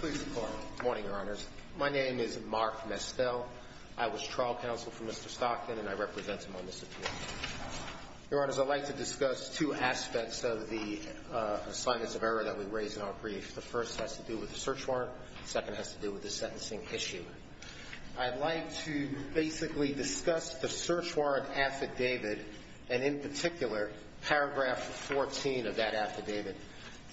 Good morning, Your Honors. My name is Mark Mestel. I was trial counsel for Mr. Stockton and I represent him on this appeal. Your Honors, I'd like to discuss two aspects of the assignments of error that we raise in our brief. The first has to do with the search warrant. The second has to do with the sentencing issue. I'd like to basically discuss the search warrant affidavit and in particular paragraph 14 of that affidavit.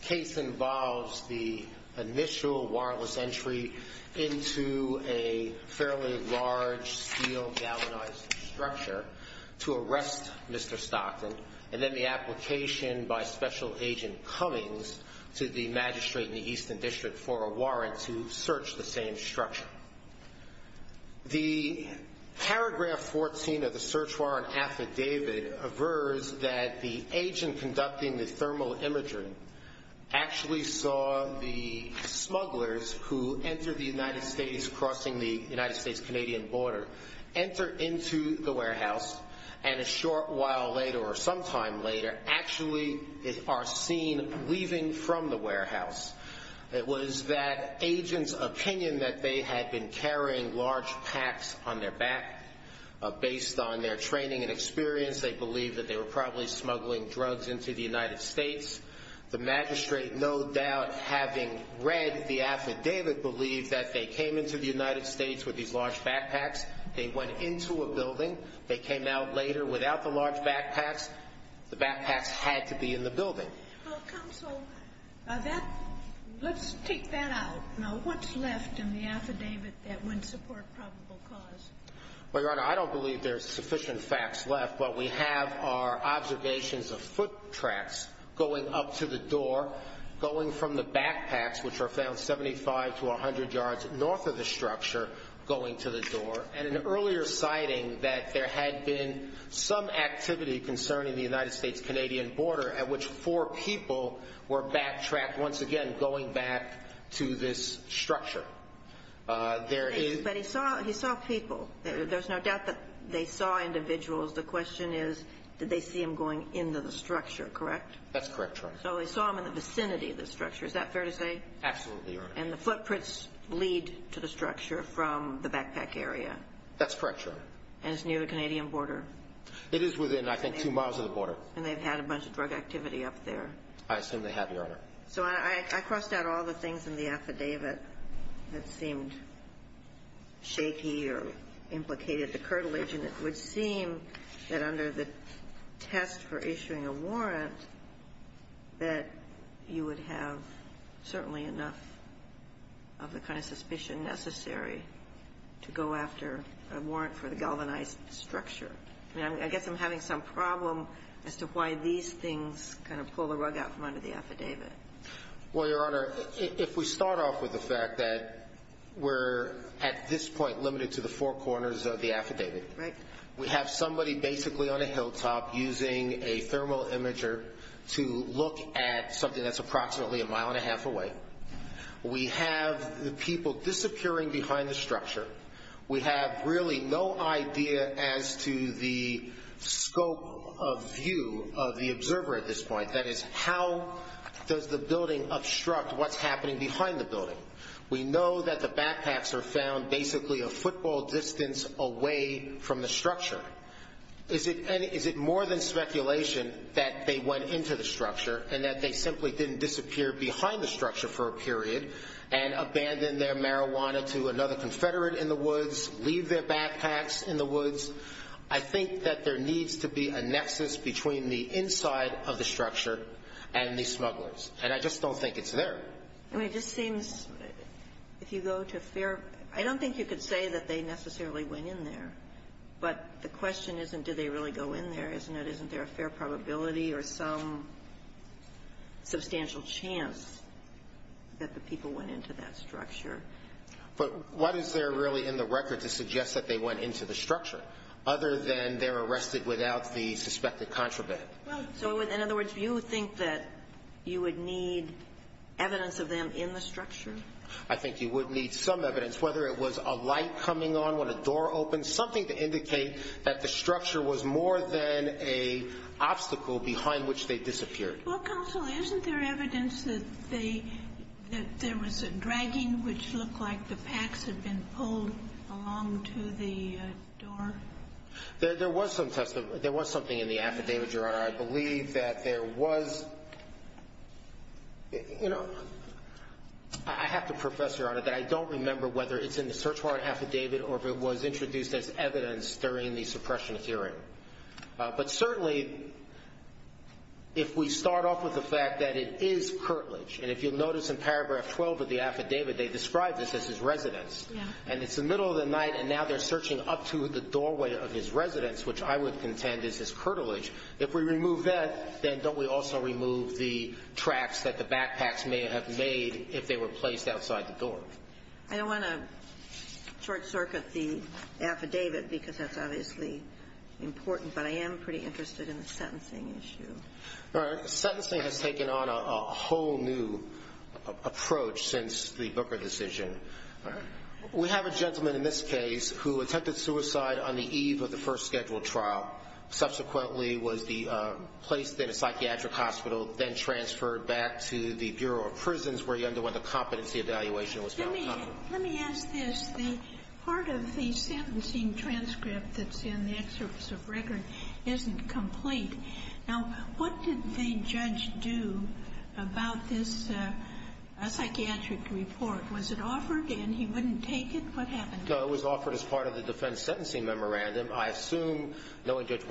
The case involves the initial wireless entry into a fairly large steel galvanized structure to arrest Mr. Stockton and then the application by Special Agent Cummings to the Magistrate in the Eastern District for a warrant to search the same structure. The paragraph 14 of the search warrant affidavit averses that the agent conducting the thermal imagery actually saw the smugglers who entered the United States crossing the United States-Canadian border enter into the warehouse and a short while later or are seen leaving from the warehouse. It was that agent's opinion that they had been carrying large packs on their back based on their training and experience. They believed that they were probably smuggling drugs into the United States. The Magistrate, no doubt having read the affidavit, believed that they came into the United States with these large backpacks. They went into a building. Counsel, let's take that out. What's left in the affidavit that wouldn't support probable cause? Well, Your Honor, I don't believe there's sufficient facts left. What we have are observations of foot tracks going up to the door, going from the backpacks, which are found 75 to 100 yards north of the structure, going to the door and an earlier sighting that there had been some activity concerning the United States-Canadian border at which four people were backtracked, once again, going back to this structure. But he saw people. There's no doubt that they saw individuals. The question is, did they see him going into the structure, correct? That's correct, Your Honor. So they saw him in the vicinity of the structure. Is that fair to say? Absolutely, Your Honor. And the footprints lead to the structure from the backpack area? That's correct, Your Honor. And it's near the Canadian border? It is within, I think, two miles of the border. And they've had a bunch of drug activity up there? I assume they have, Your Honor. So I crossed out all the things in the affidavit that seemed shaky or implicated the curtilage, and it would seem that under the test for issuing a warrant that you would have certainly enough of the kind of suspicion necessary to go after a warrant for the galvanized structure. I mean, I guess I'm having some problem as to why these things kind of pull the rug out from under the affidavit. Well, Your Honor, if we start off with the fact that we're at this point limited to the four corners of the affidavit. Right. We have somebody basically on a hilltop using a thermal imager to look at something that's approximately a mile and a half away. We have the people disappearing behind the structure. We have really no idea as to the scope of view of the observer at this point. That is, how does the building obstruct what's happening behind the building? We know that the backpacks are found basically a football distance away from the structure. Is it more than speculation that they went into the structure and they simply didn't disappear behind the structure for a period and abandoned their marijuana to another confederate in the woods, leave their backpacks in the woods? I think that there needs to be a nexus between the inside of the structure and the smugglers. And I just don't think it's there. I mean, it just seems, if you go to fair, I don't think you could say that they necessarily went in there. But the question isn't, did they really go in there, isn't it? Isn't there a probability or some substantial chance that the people went into that structure? But what is there really in the record to suggest that they went into the structure other than they're arrested without the suspected contraband? So in other words, you think that you would need evidence of them in the structure? I think you would need some evidence, whether it was a light coming on a door open, something to indicate that the structure was more than a obstacle behind which they disappeared. Well, counsel, isn't there evidence that they, that there was a dragging, which looked like the packs had been pulled along to the door? There was some testimony, there was something in the affidavit, Your Honor. I believe that there was, you know, I have to profess, Your Honor, that I don't remember whether it's in the search warrant affidavit or if it was introduced as evidence during the suppression hearing. But certainly, if we start off with the fact that it is curtilage, and if you'll notice in paragraph 12 of the affidavit, they describe this as his residence, and it's the middle of the night, and now they're searching up to the doorway of his residence, which I would contend is his curtilage. If we remove that, then don't we also remove the tracks that the backpacks may have made if they were to short-circuit the affidavit, because that's obviously important. But I am pretty interested in the sentencing issue. Your Honor, sentencing has taken on a whole new approach since the Booker decision. We have a gentleman in this case who attempted suicide on the eve of the first scheduled trial. Subsequently, was placed in a psychiatric hospital, then transferred back to the Bureau of Prisons where he underwent a competency evaluation. Let me ask this. Part of the sentencing transcript that's in the excerpts of record isn't complete. Now, what did the judge do about this psychiatric report? Was it offered and he wouldn't take it? What happened? No, it was offered as part of the defense sentencing memorandum. I assume, knowing Judge did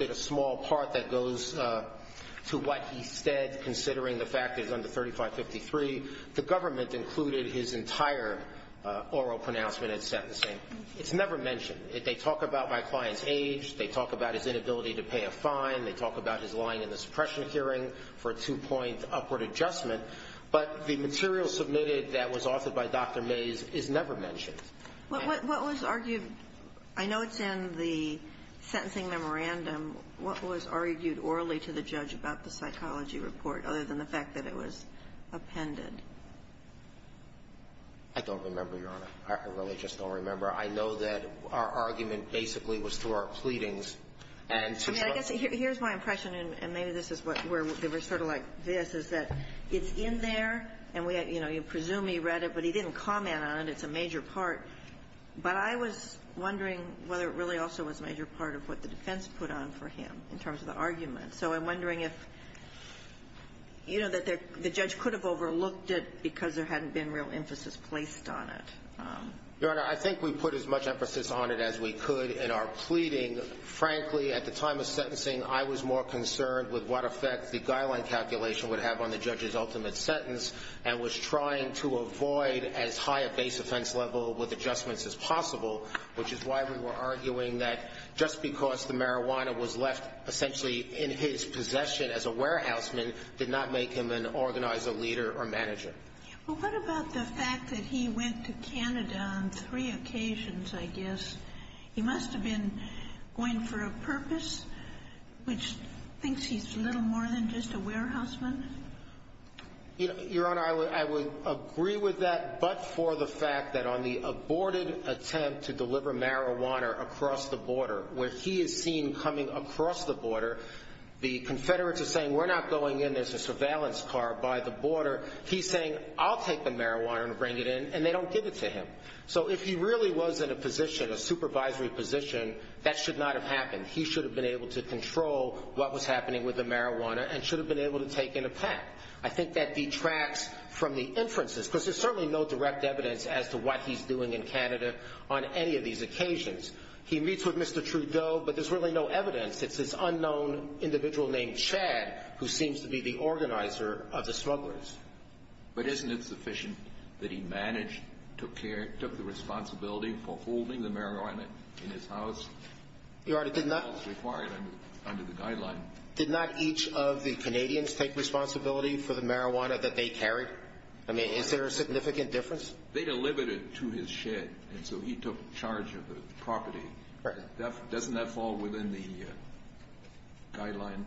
a small part that goes to what he said, considering the fact that it's under 3553, the government included his entire oral pronouncement at sentencing. It's never mentioned. They talk about my client's age. They talk about his inability to pay a fine. They talk about his lying in the suppression hearing for a two-point upward adjustment. But the material submitted that was authored by Dr. Mays is never mentioned. What was argued? I know it's in the sentencing memorandum. What was argued orally to the judge about the psychology report, other than the fact that it was appended? I don't remember, Your Honor. I really just don't remember. I know that our argument basically was through our pleadings and to the point of the case. I mean, I guess here's my impression, and maybe this is where we're sort of like this, is that it's in there, and, you know, you presume he read it, but he didn't comment on it. It's a major part. But I was wondering whether it really also was a major part of what the defense put on for him, in terms of the argument. So I'm wondering if, you know, that the judge could have overlooked it because there hadn't been real emphasis placed on it. Your Honor, I think we put as much emphasis on it as we could in our pleading. Frankly, at the time of sentencing, I was more concerned with what effect the guideline calculation would have on the judge's ultimate sentence, and was trying to avoid as high a base offense level with adjustments as possible, which is why we were arguing that just because the marijuana was left essentially in his possession as a warehouseman did not make him an organizer, leader, or manager. Well, what about the fact that he went to Canada on three occasions, I guess? He must have been going for a purpose, which thinks he's little more than just a warehouseman. Your Honor, I would agree with that, but for the fact that on the aborted attempt to deliver marijuana across the border, where he is seen coming across the border, the Confederates are saying, we're not going in, there's a surveillance car by the border. He's saying, I'll take the marijuana and bring it in, and they don't give it to him. So if he really was in a position, a supervisory position, that should not have happened. He should have been able to control what was happening with the marijuana and should have been able to take in a pack. I think that detracts from the inferences, because there's certainly no direct evidence as to what he's doing in Canada on any of these occasions. He meets with Mr. Trudeau, but there's really no evidence. It's this unknown individual named Chad who seems to be the organizer of the smugglers. But isn't it sufficient that he managed, took care, took the responsibility for holding the marijuana in his house? Your Honor, did not... As required under the guideline. Did not each of the Canadians take responsibility for the marijuana that they carried? I mean, is there a significant difference? They delivered it to his shed, and so he took charge of the property. Right. Doesn't that fall within the guideline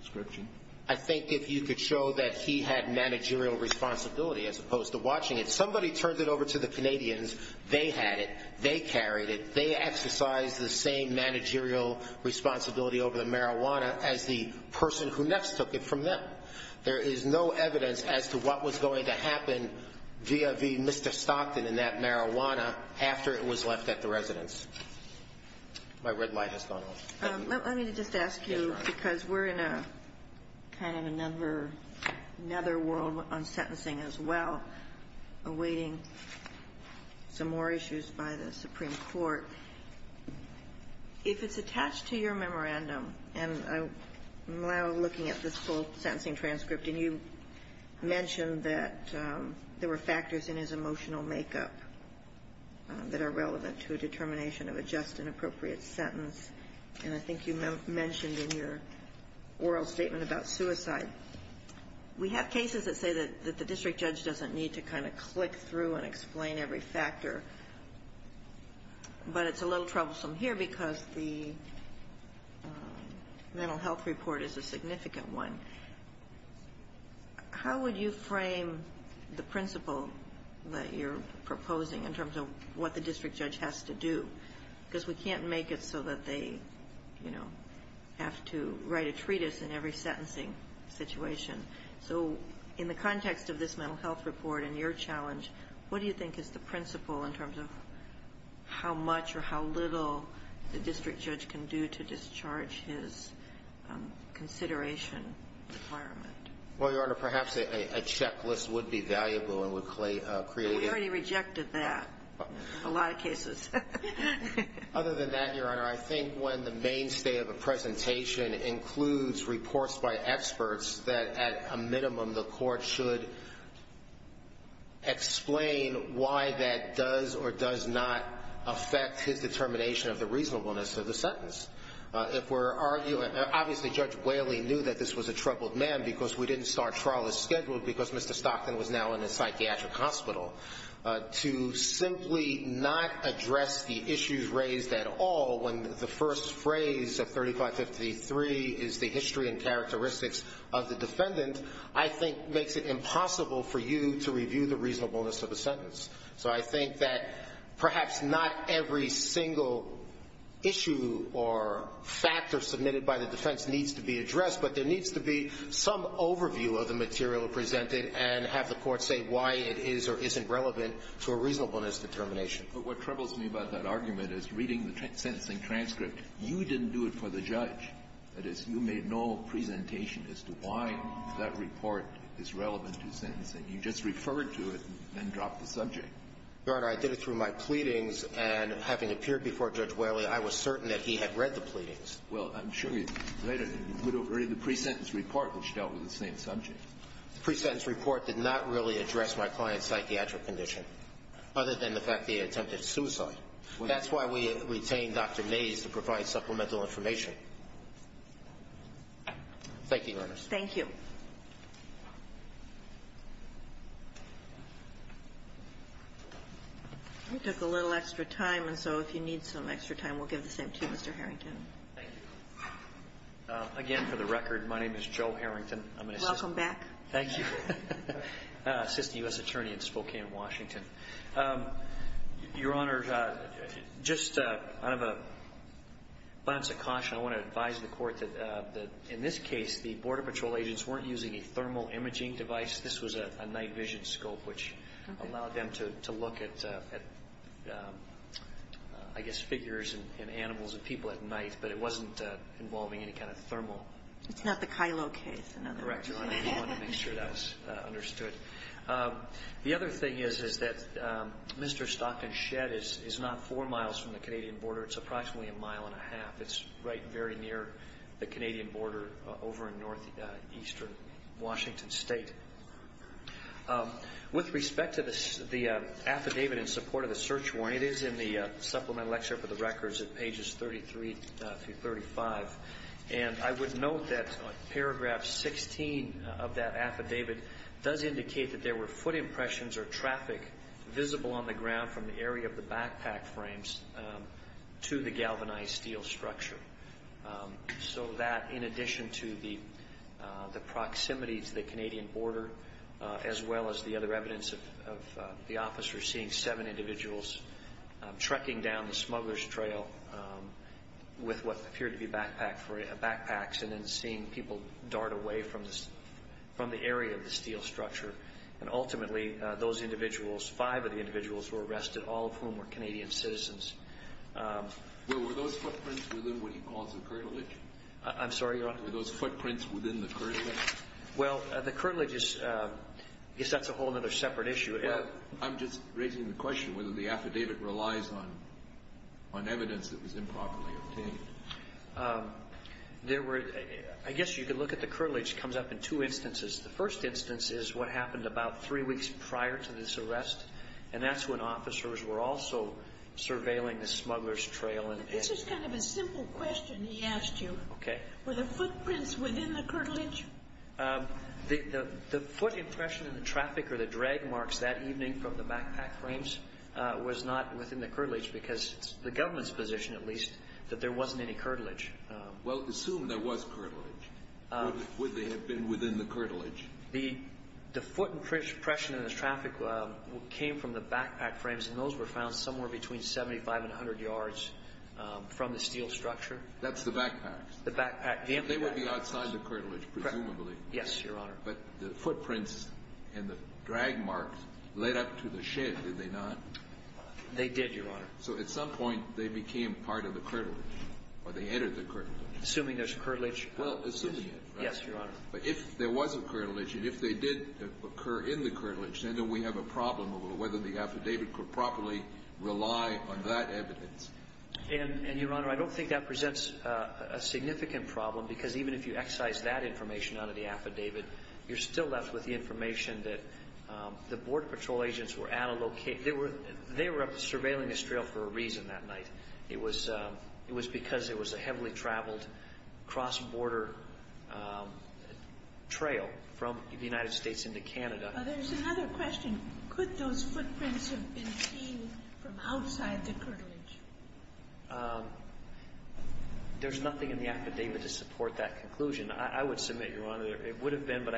description? I think if you could show that he had managerial responsibility as opposed to watching it. Somebody turned it over to the Canadians. They had it. They carried it. They exercised the same managerial responsibility over the marijuana as the person who next took it from them. There is no evidence as to what was going to happen via the Mr. Stockton and that marijuana after it was left at the residence. My red light has gone off. Let me just ask you, because we're in a kind of another world on sentencing as well, awaiting some more issues by the Supreme Court. If it's attached to your memorandum, and I'm now looking at this full sentencing transcript, and you mentioned that there were factors in his emotional makeup that are relevant to a determination of a just and appropriate sentence, and I think you mentioned in your oral statement about suicide. We have cases that say that the district judge doesn't need to kind of click through and explain every factor, but it's a little troublesome here because the mental health report is a significant one. How would you frame the principle that you're proposing in terms of what the district judge can do to discharge his consideration requirement? Well, Your Honor, perhaps a checklist would be valuable and would create a... We already rejected that in a lot of cases. Your Honor, I think when the mainstay of a presentation includes reports by experts, that at a minimum the court should explain why that does or does not affect his determination of the reasonableness of the sentence. Obviously, Judge Whaley knew that this was a troubled man because we didn't start trial as scheduled because Mr. Stockton was now in a psychiatric phrase of 3553 is the history and characteristics of the defendant, I think makes it impossible for you to review the reasonableness of a sentence. So I think that perhaps not every single issue or factor submitted by the defense needs to be addressed, but there needs to be some overview of the material presented and have the court say why it is or isn't relevant to a reasonableness determination. But what troubles me about that argument is reading the sentencing transcript. You didn't do it for the judge. That is, you made no presentation as to why that report is relevant to sentencing. You just referred to it and then dropped the subject. Your Honor, I did it through my pleadings, and having appeared before Judge Whaley, I was certain that he had read the pleadings. Well, I'm sure you later put over the pre-sentence report, which dealt with the same subject. The pre-sentence report did not really address my client's psychiatric condition, other than the fact that he attempted suicide. That's why we retained Dr. Mays to provide supplemental information. Thank you, Your Honor. Thank you. We took a little extra time, and so if you need some extra time, we'll give the same to you, Mr. Harrington. Thank you. Again, for the record, my name is Joe Harrington. Welcome back. Thank you. Assistant U.S. Attorney in Spokane, Washington. Your Honor, just out of a bounce of caution, I want to advise the Court that in this case, the Border Patrol agents weren't using a thermal imaging device. This was a night vision scope, which allowed them to look at, I guess, figures and animals and people at night, but it wasn't involving any kind of thermal. It's not the Kylo case. Correct, Your Honor. I want to make sure that's understood. The other thing is that Mr. Stockton's shed is not four miles from the Canadian border. It's approximately a mile and a half. It's right very near the Canadian border over in northeastern Washington State. With respect to the affidavit in support of the search warrant, it is in the supplemental lexer for the records at pages 33 through 35. And I would note that paragraph 16 of that affidavit does indicate that there were foot impressions or traffic visible on the ground from the area of the backpack frames to the galvanized steel structure. So that, in addition to the proximity to the Canadian border, as well as the other smuggler's trail with what appeared to be backpacks and then seeing people dart away from the area of the steel structure. And ultimately, those individuals, five of the individuals were arrested, all of whom were Canadian citizens. Were those footprints within what he calls the curtilage? I'm sorry, Your Honor? Were those footprints within the curtilage? Well, the curtilage is, I guess that's a whole other separate issue. I'm just raising the question whether the affidavit relies on evidence that was improperly obtained. I guess you could look at the curtilage. It comes up in two instances. The first instance is what happened about three weeks prior to this arrest, and that's when officers were also surveilling the smuggler's trail. This is kind of a simple question he asked you. Were the footprints within the curtilage? The foot impression in the traffic or the drag marks that evening from the backpack frames was not within the curtilage because it's the government's position, at least, that there wasn't any curtilage. Well, assume there was curtilage. Would they have been within the curtilage? The foot impression in the traffic came from the backpack frames, and those were found somewhere between 75 and 100 yards from the steel structure. That's the backpacks? The backpack. They would be outside the curtilage, presumably. Yes, Your Honor. But the footprints and the drag marks led up to the shed, did they not? They did, Your Honor. So at some point, they became part of the curtilage or they entered the curtilage. Assuming there's curtilage. Well, assuming it, right? Yes, Your Honor. But if there was a curtilage and if they did occur in the curtilage, then we have a problem over whether the affidavit could properly rely on that evidence. And, Your Honor, I don't think that presents a significant problem because even if you excise that information out of the affidavit, you're still left with the information that the Border Patrol agents were at a location. They were surveilling this trail for a reason that night. It was because it was a heavily traveled cross-border trail from the United States into Canada. There's another question. Could those footprints have been seen from outside the curtilage? There's nothing in the affidavit to support that conclusion. I would submit, Your Honor, it would have been, but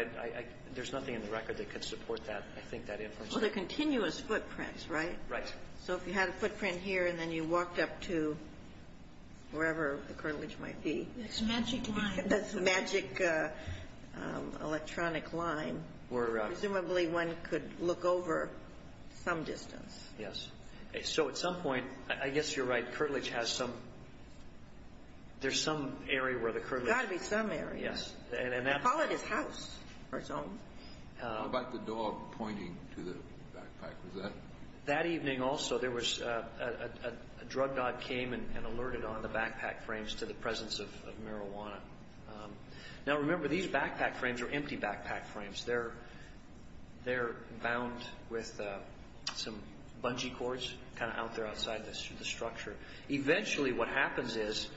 there's nothing in the record that could support that, I think, that information. Well, they're continuous footprints, right? Right. So if you had a footprint here and then you walked up to wherever the curtilage might be. It's a magic line. That's a magic electronic line. Presumably one could look over some distance. Yes. So at some point, I guess you're right, the curtilage has some, there's some area where the curtilage is. There's got to be some area. Yes. They call it his house or his home. How about the dog pointing to the backpack? Was that? That evening also there was a drug god came and alerted on the backpack frames to the presence of marijuana. Now, remember, these backpack frames are empty backpack frames. They're bound with some bungee cords kind of out there outside the structure. Eventually what happens is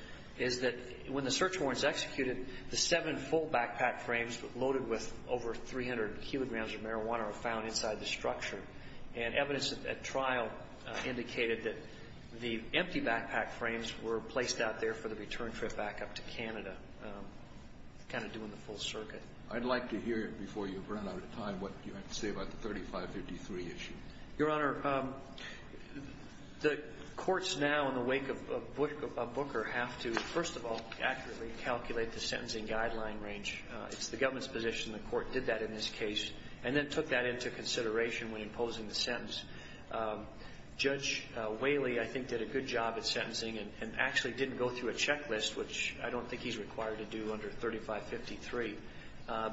that when the search warrant is executed, the seven full backpack frames loaded with over 300 kilograms of marijuana are found inside the structure. And evidence at trial indicated that the empty backpack frames were placed out there for the return trip back up to Canada, kind of doing the full circuit. I'd like to hear before you run out of time what you have to say about the 3553 issue. Your Honor, the courts now in the wake of Booker have to, first of all, accurately calculate the sentencing guideline range. It's the government's position the court did that in this case and then took that into consideration when imposing the sentence. Judge Whaley, I think, did a good job at sentencing and actually didn't go through a checklist, which I don't think he's required to do under 3553.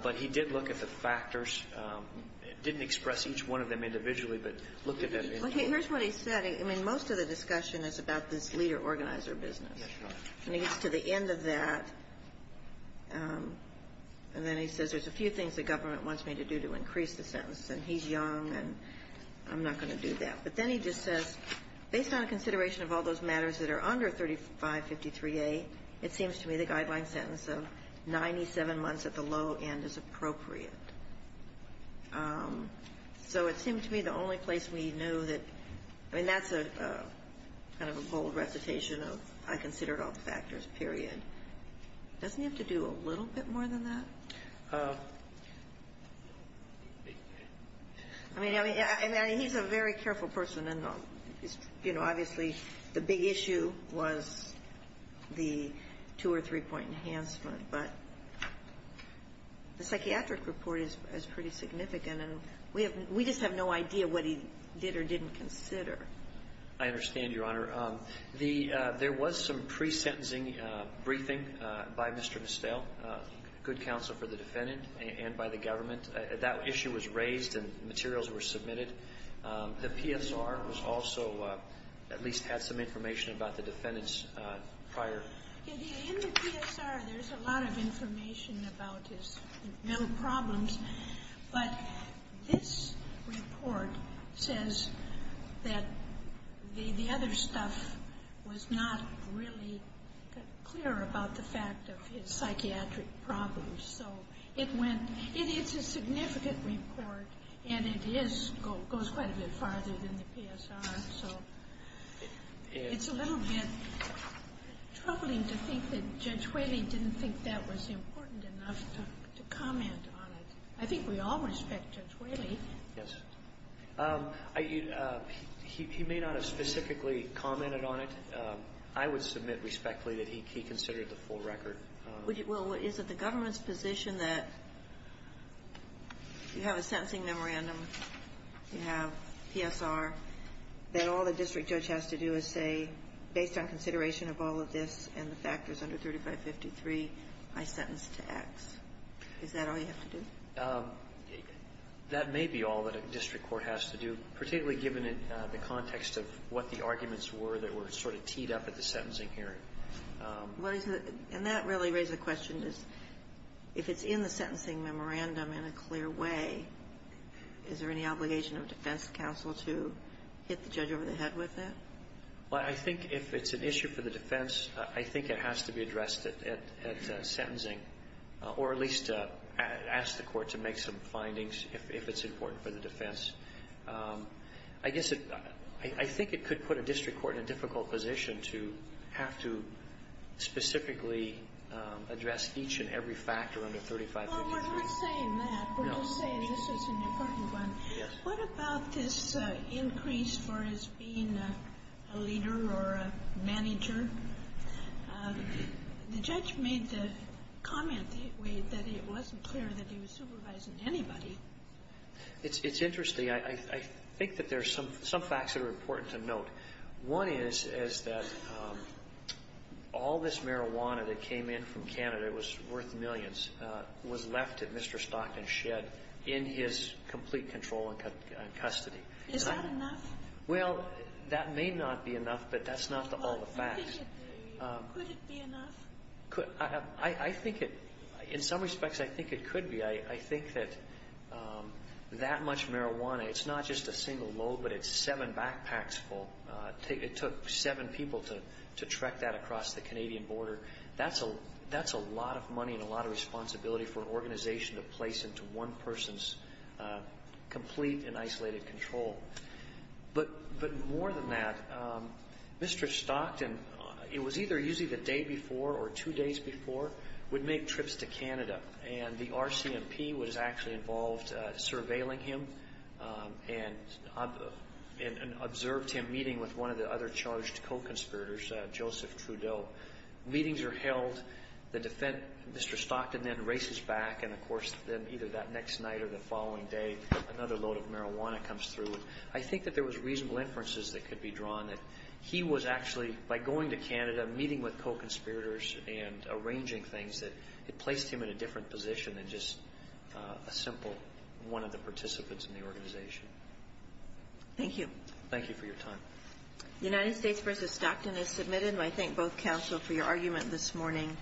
But he did look at the factors, didn't express each one of them individually, but looked at them individually. Okay. Here's what he said. I mean, most of the discussion is about this leader-organizer business. That's right. And he gets to the end of that, and then he says there's a few things the government wants me to do to increase the sentence. And he's young, and I'm not going to do that. But then he just says, based on consideration of all those matters that are under 3553A, it seems to me the guideline sentence of 97 months at the low end is appropriate. So it seemed to me the only place we knew that – I mean, that's a kind of a bold recitation of I considered all the factors, period. Doesn't he have to do a little bit more than that? I mean, I mean, he's a very careful person, and, you know, obviously the big issue was the two- or three-point enhancement. But the psychiatric report is pretty significant, and we just have no idea what he did or didn't consider. I understand, Your Honor. The – there was some pre-sentencing briefing by Mr. Mistel, good counsel for the defendant and by the government. That issue was raised and materials were submitted. The PSR was also – at least had some information about the defendant's prior – In the PSR, there's a lot of information about his mental problems. But this report says that the other stuff was not really clear about the fact of his It's a significant report, and it is – goes quite a bit farther than the PSR. So it's a little bit troubling to think that Judge Whaley didn't think that was important enough to comment on it. I think we all respect Judge Whaley. Yes. He may not have specifically commented on it. I would submit respectfully that he considered the full record. Well, is it the government's position that you have a sentencing memorandum, you have PSR, that all the district judge has to do is say, based on consideration of all of this and the factors under 3553, I sentence to X? Is that all you have to do? That may be all that a district court has to do, particularly given the context of what the arguments were that were sort of teed up at the sentencing hearing. And that really raises the question is, if it's in the sentencing memorandum in a clear way, is there any obligation of defense counsel to hit the judge over the head with it? Well, I think if it's an issue for the defense, I think it has to be addressed at sentencing, or at least ask the court to make some findings if it's important for the defense. I guess it – I think it could put a district court in a difficult position to have to specifically address each and every factor under 3553. Well, we're not saying that. No. We're just saying this is an important one. Yes. What about this increase for his being a leader or a manager? The judge made the comment that it wasn't clear that he was supervising anybody. It's interesting. I think that there are some facts that are important to note. One is that all this marijuana that came in from Canada was worth millions, was left at Mr. Stockton's shed in his complete control and custody. Is that enough? Well, that may not be enough, but that's not all the facts. Could it be enough? I think it – in some respects, I think it could be. I think that that much marijuana, it's not just a single load, but it's seven backpacks full. It took seven people to trek that across the Canadian border. That's a lot of money and a lot of responsibility for an organization to place into one person's complete and isolated control. But more than that, Mr. Stockton, it was either usually the day before or two days before, would make trips to Canada, and the RCMP was actually involved surveilling him. And observed him meeting with one of the other charged co-conspirators, Joseph Trudeau. Meetings are held. Mr. Stockton then races back, and, of course, then either that next night or the following day, another load of marijuana comes through. I think that there was reasonable inferences that could be drawn that he was actually, by going to Canada, meeting with co-conspirators and arranging things, that it placed him in a different position than just a simple one of the participants in the organization. Thank you. Thank you for your time. United States v. Stockton is submitted. And I thank both counsel for your argument this morning.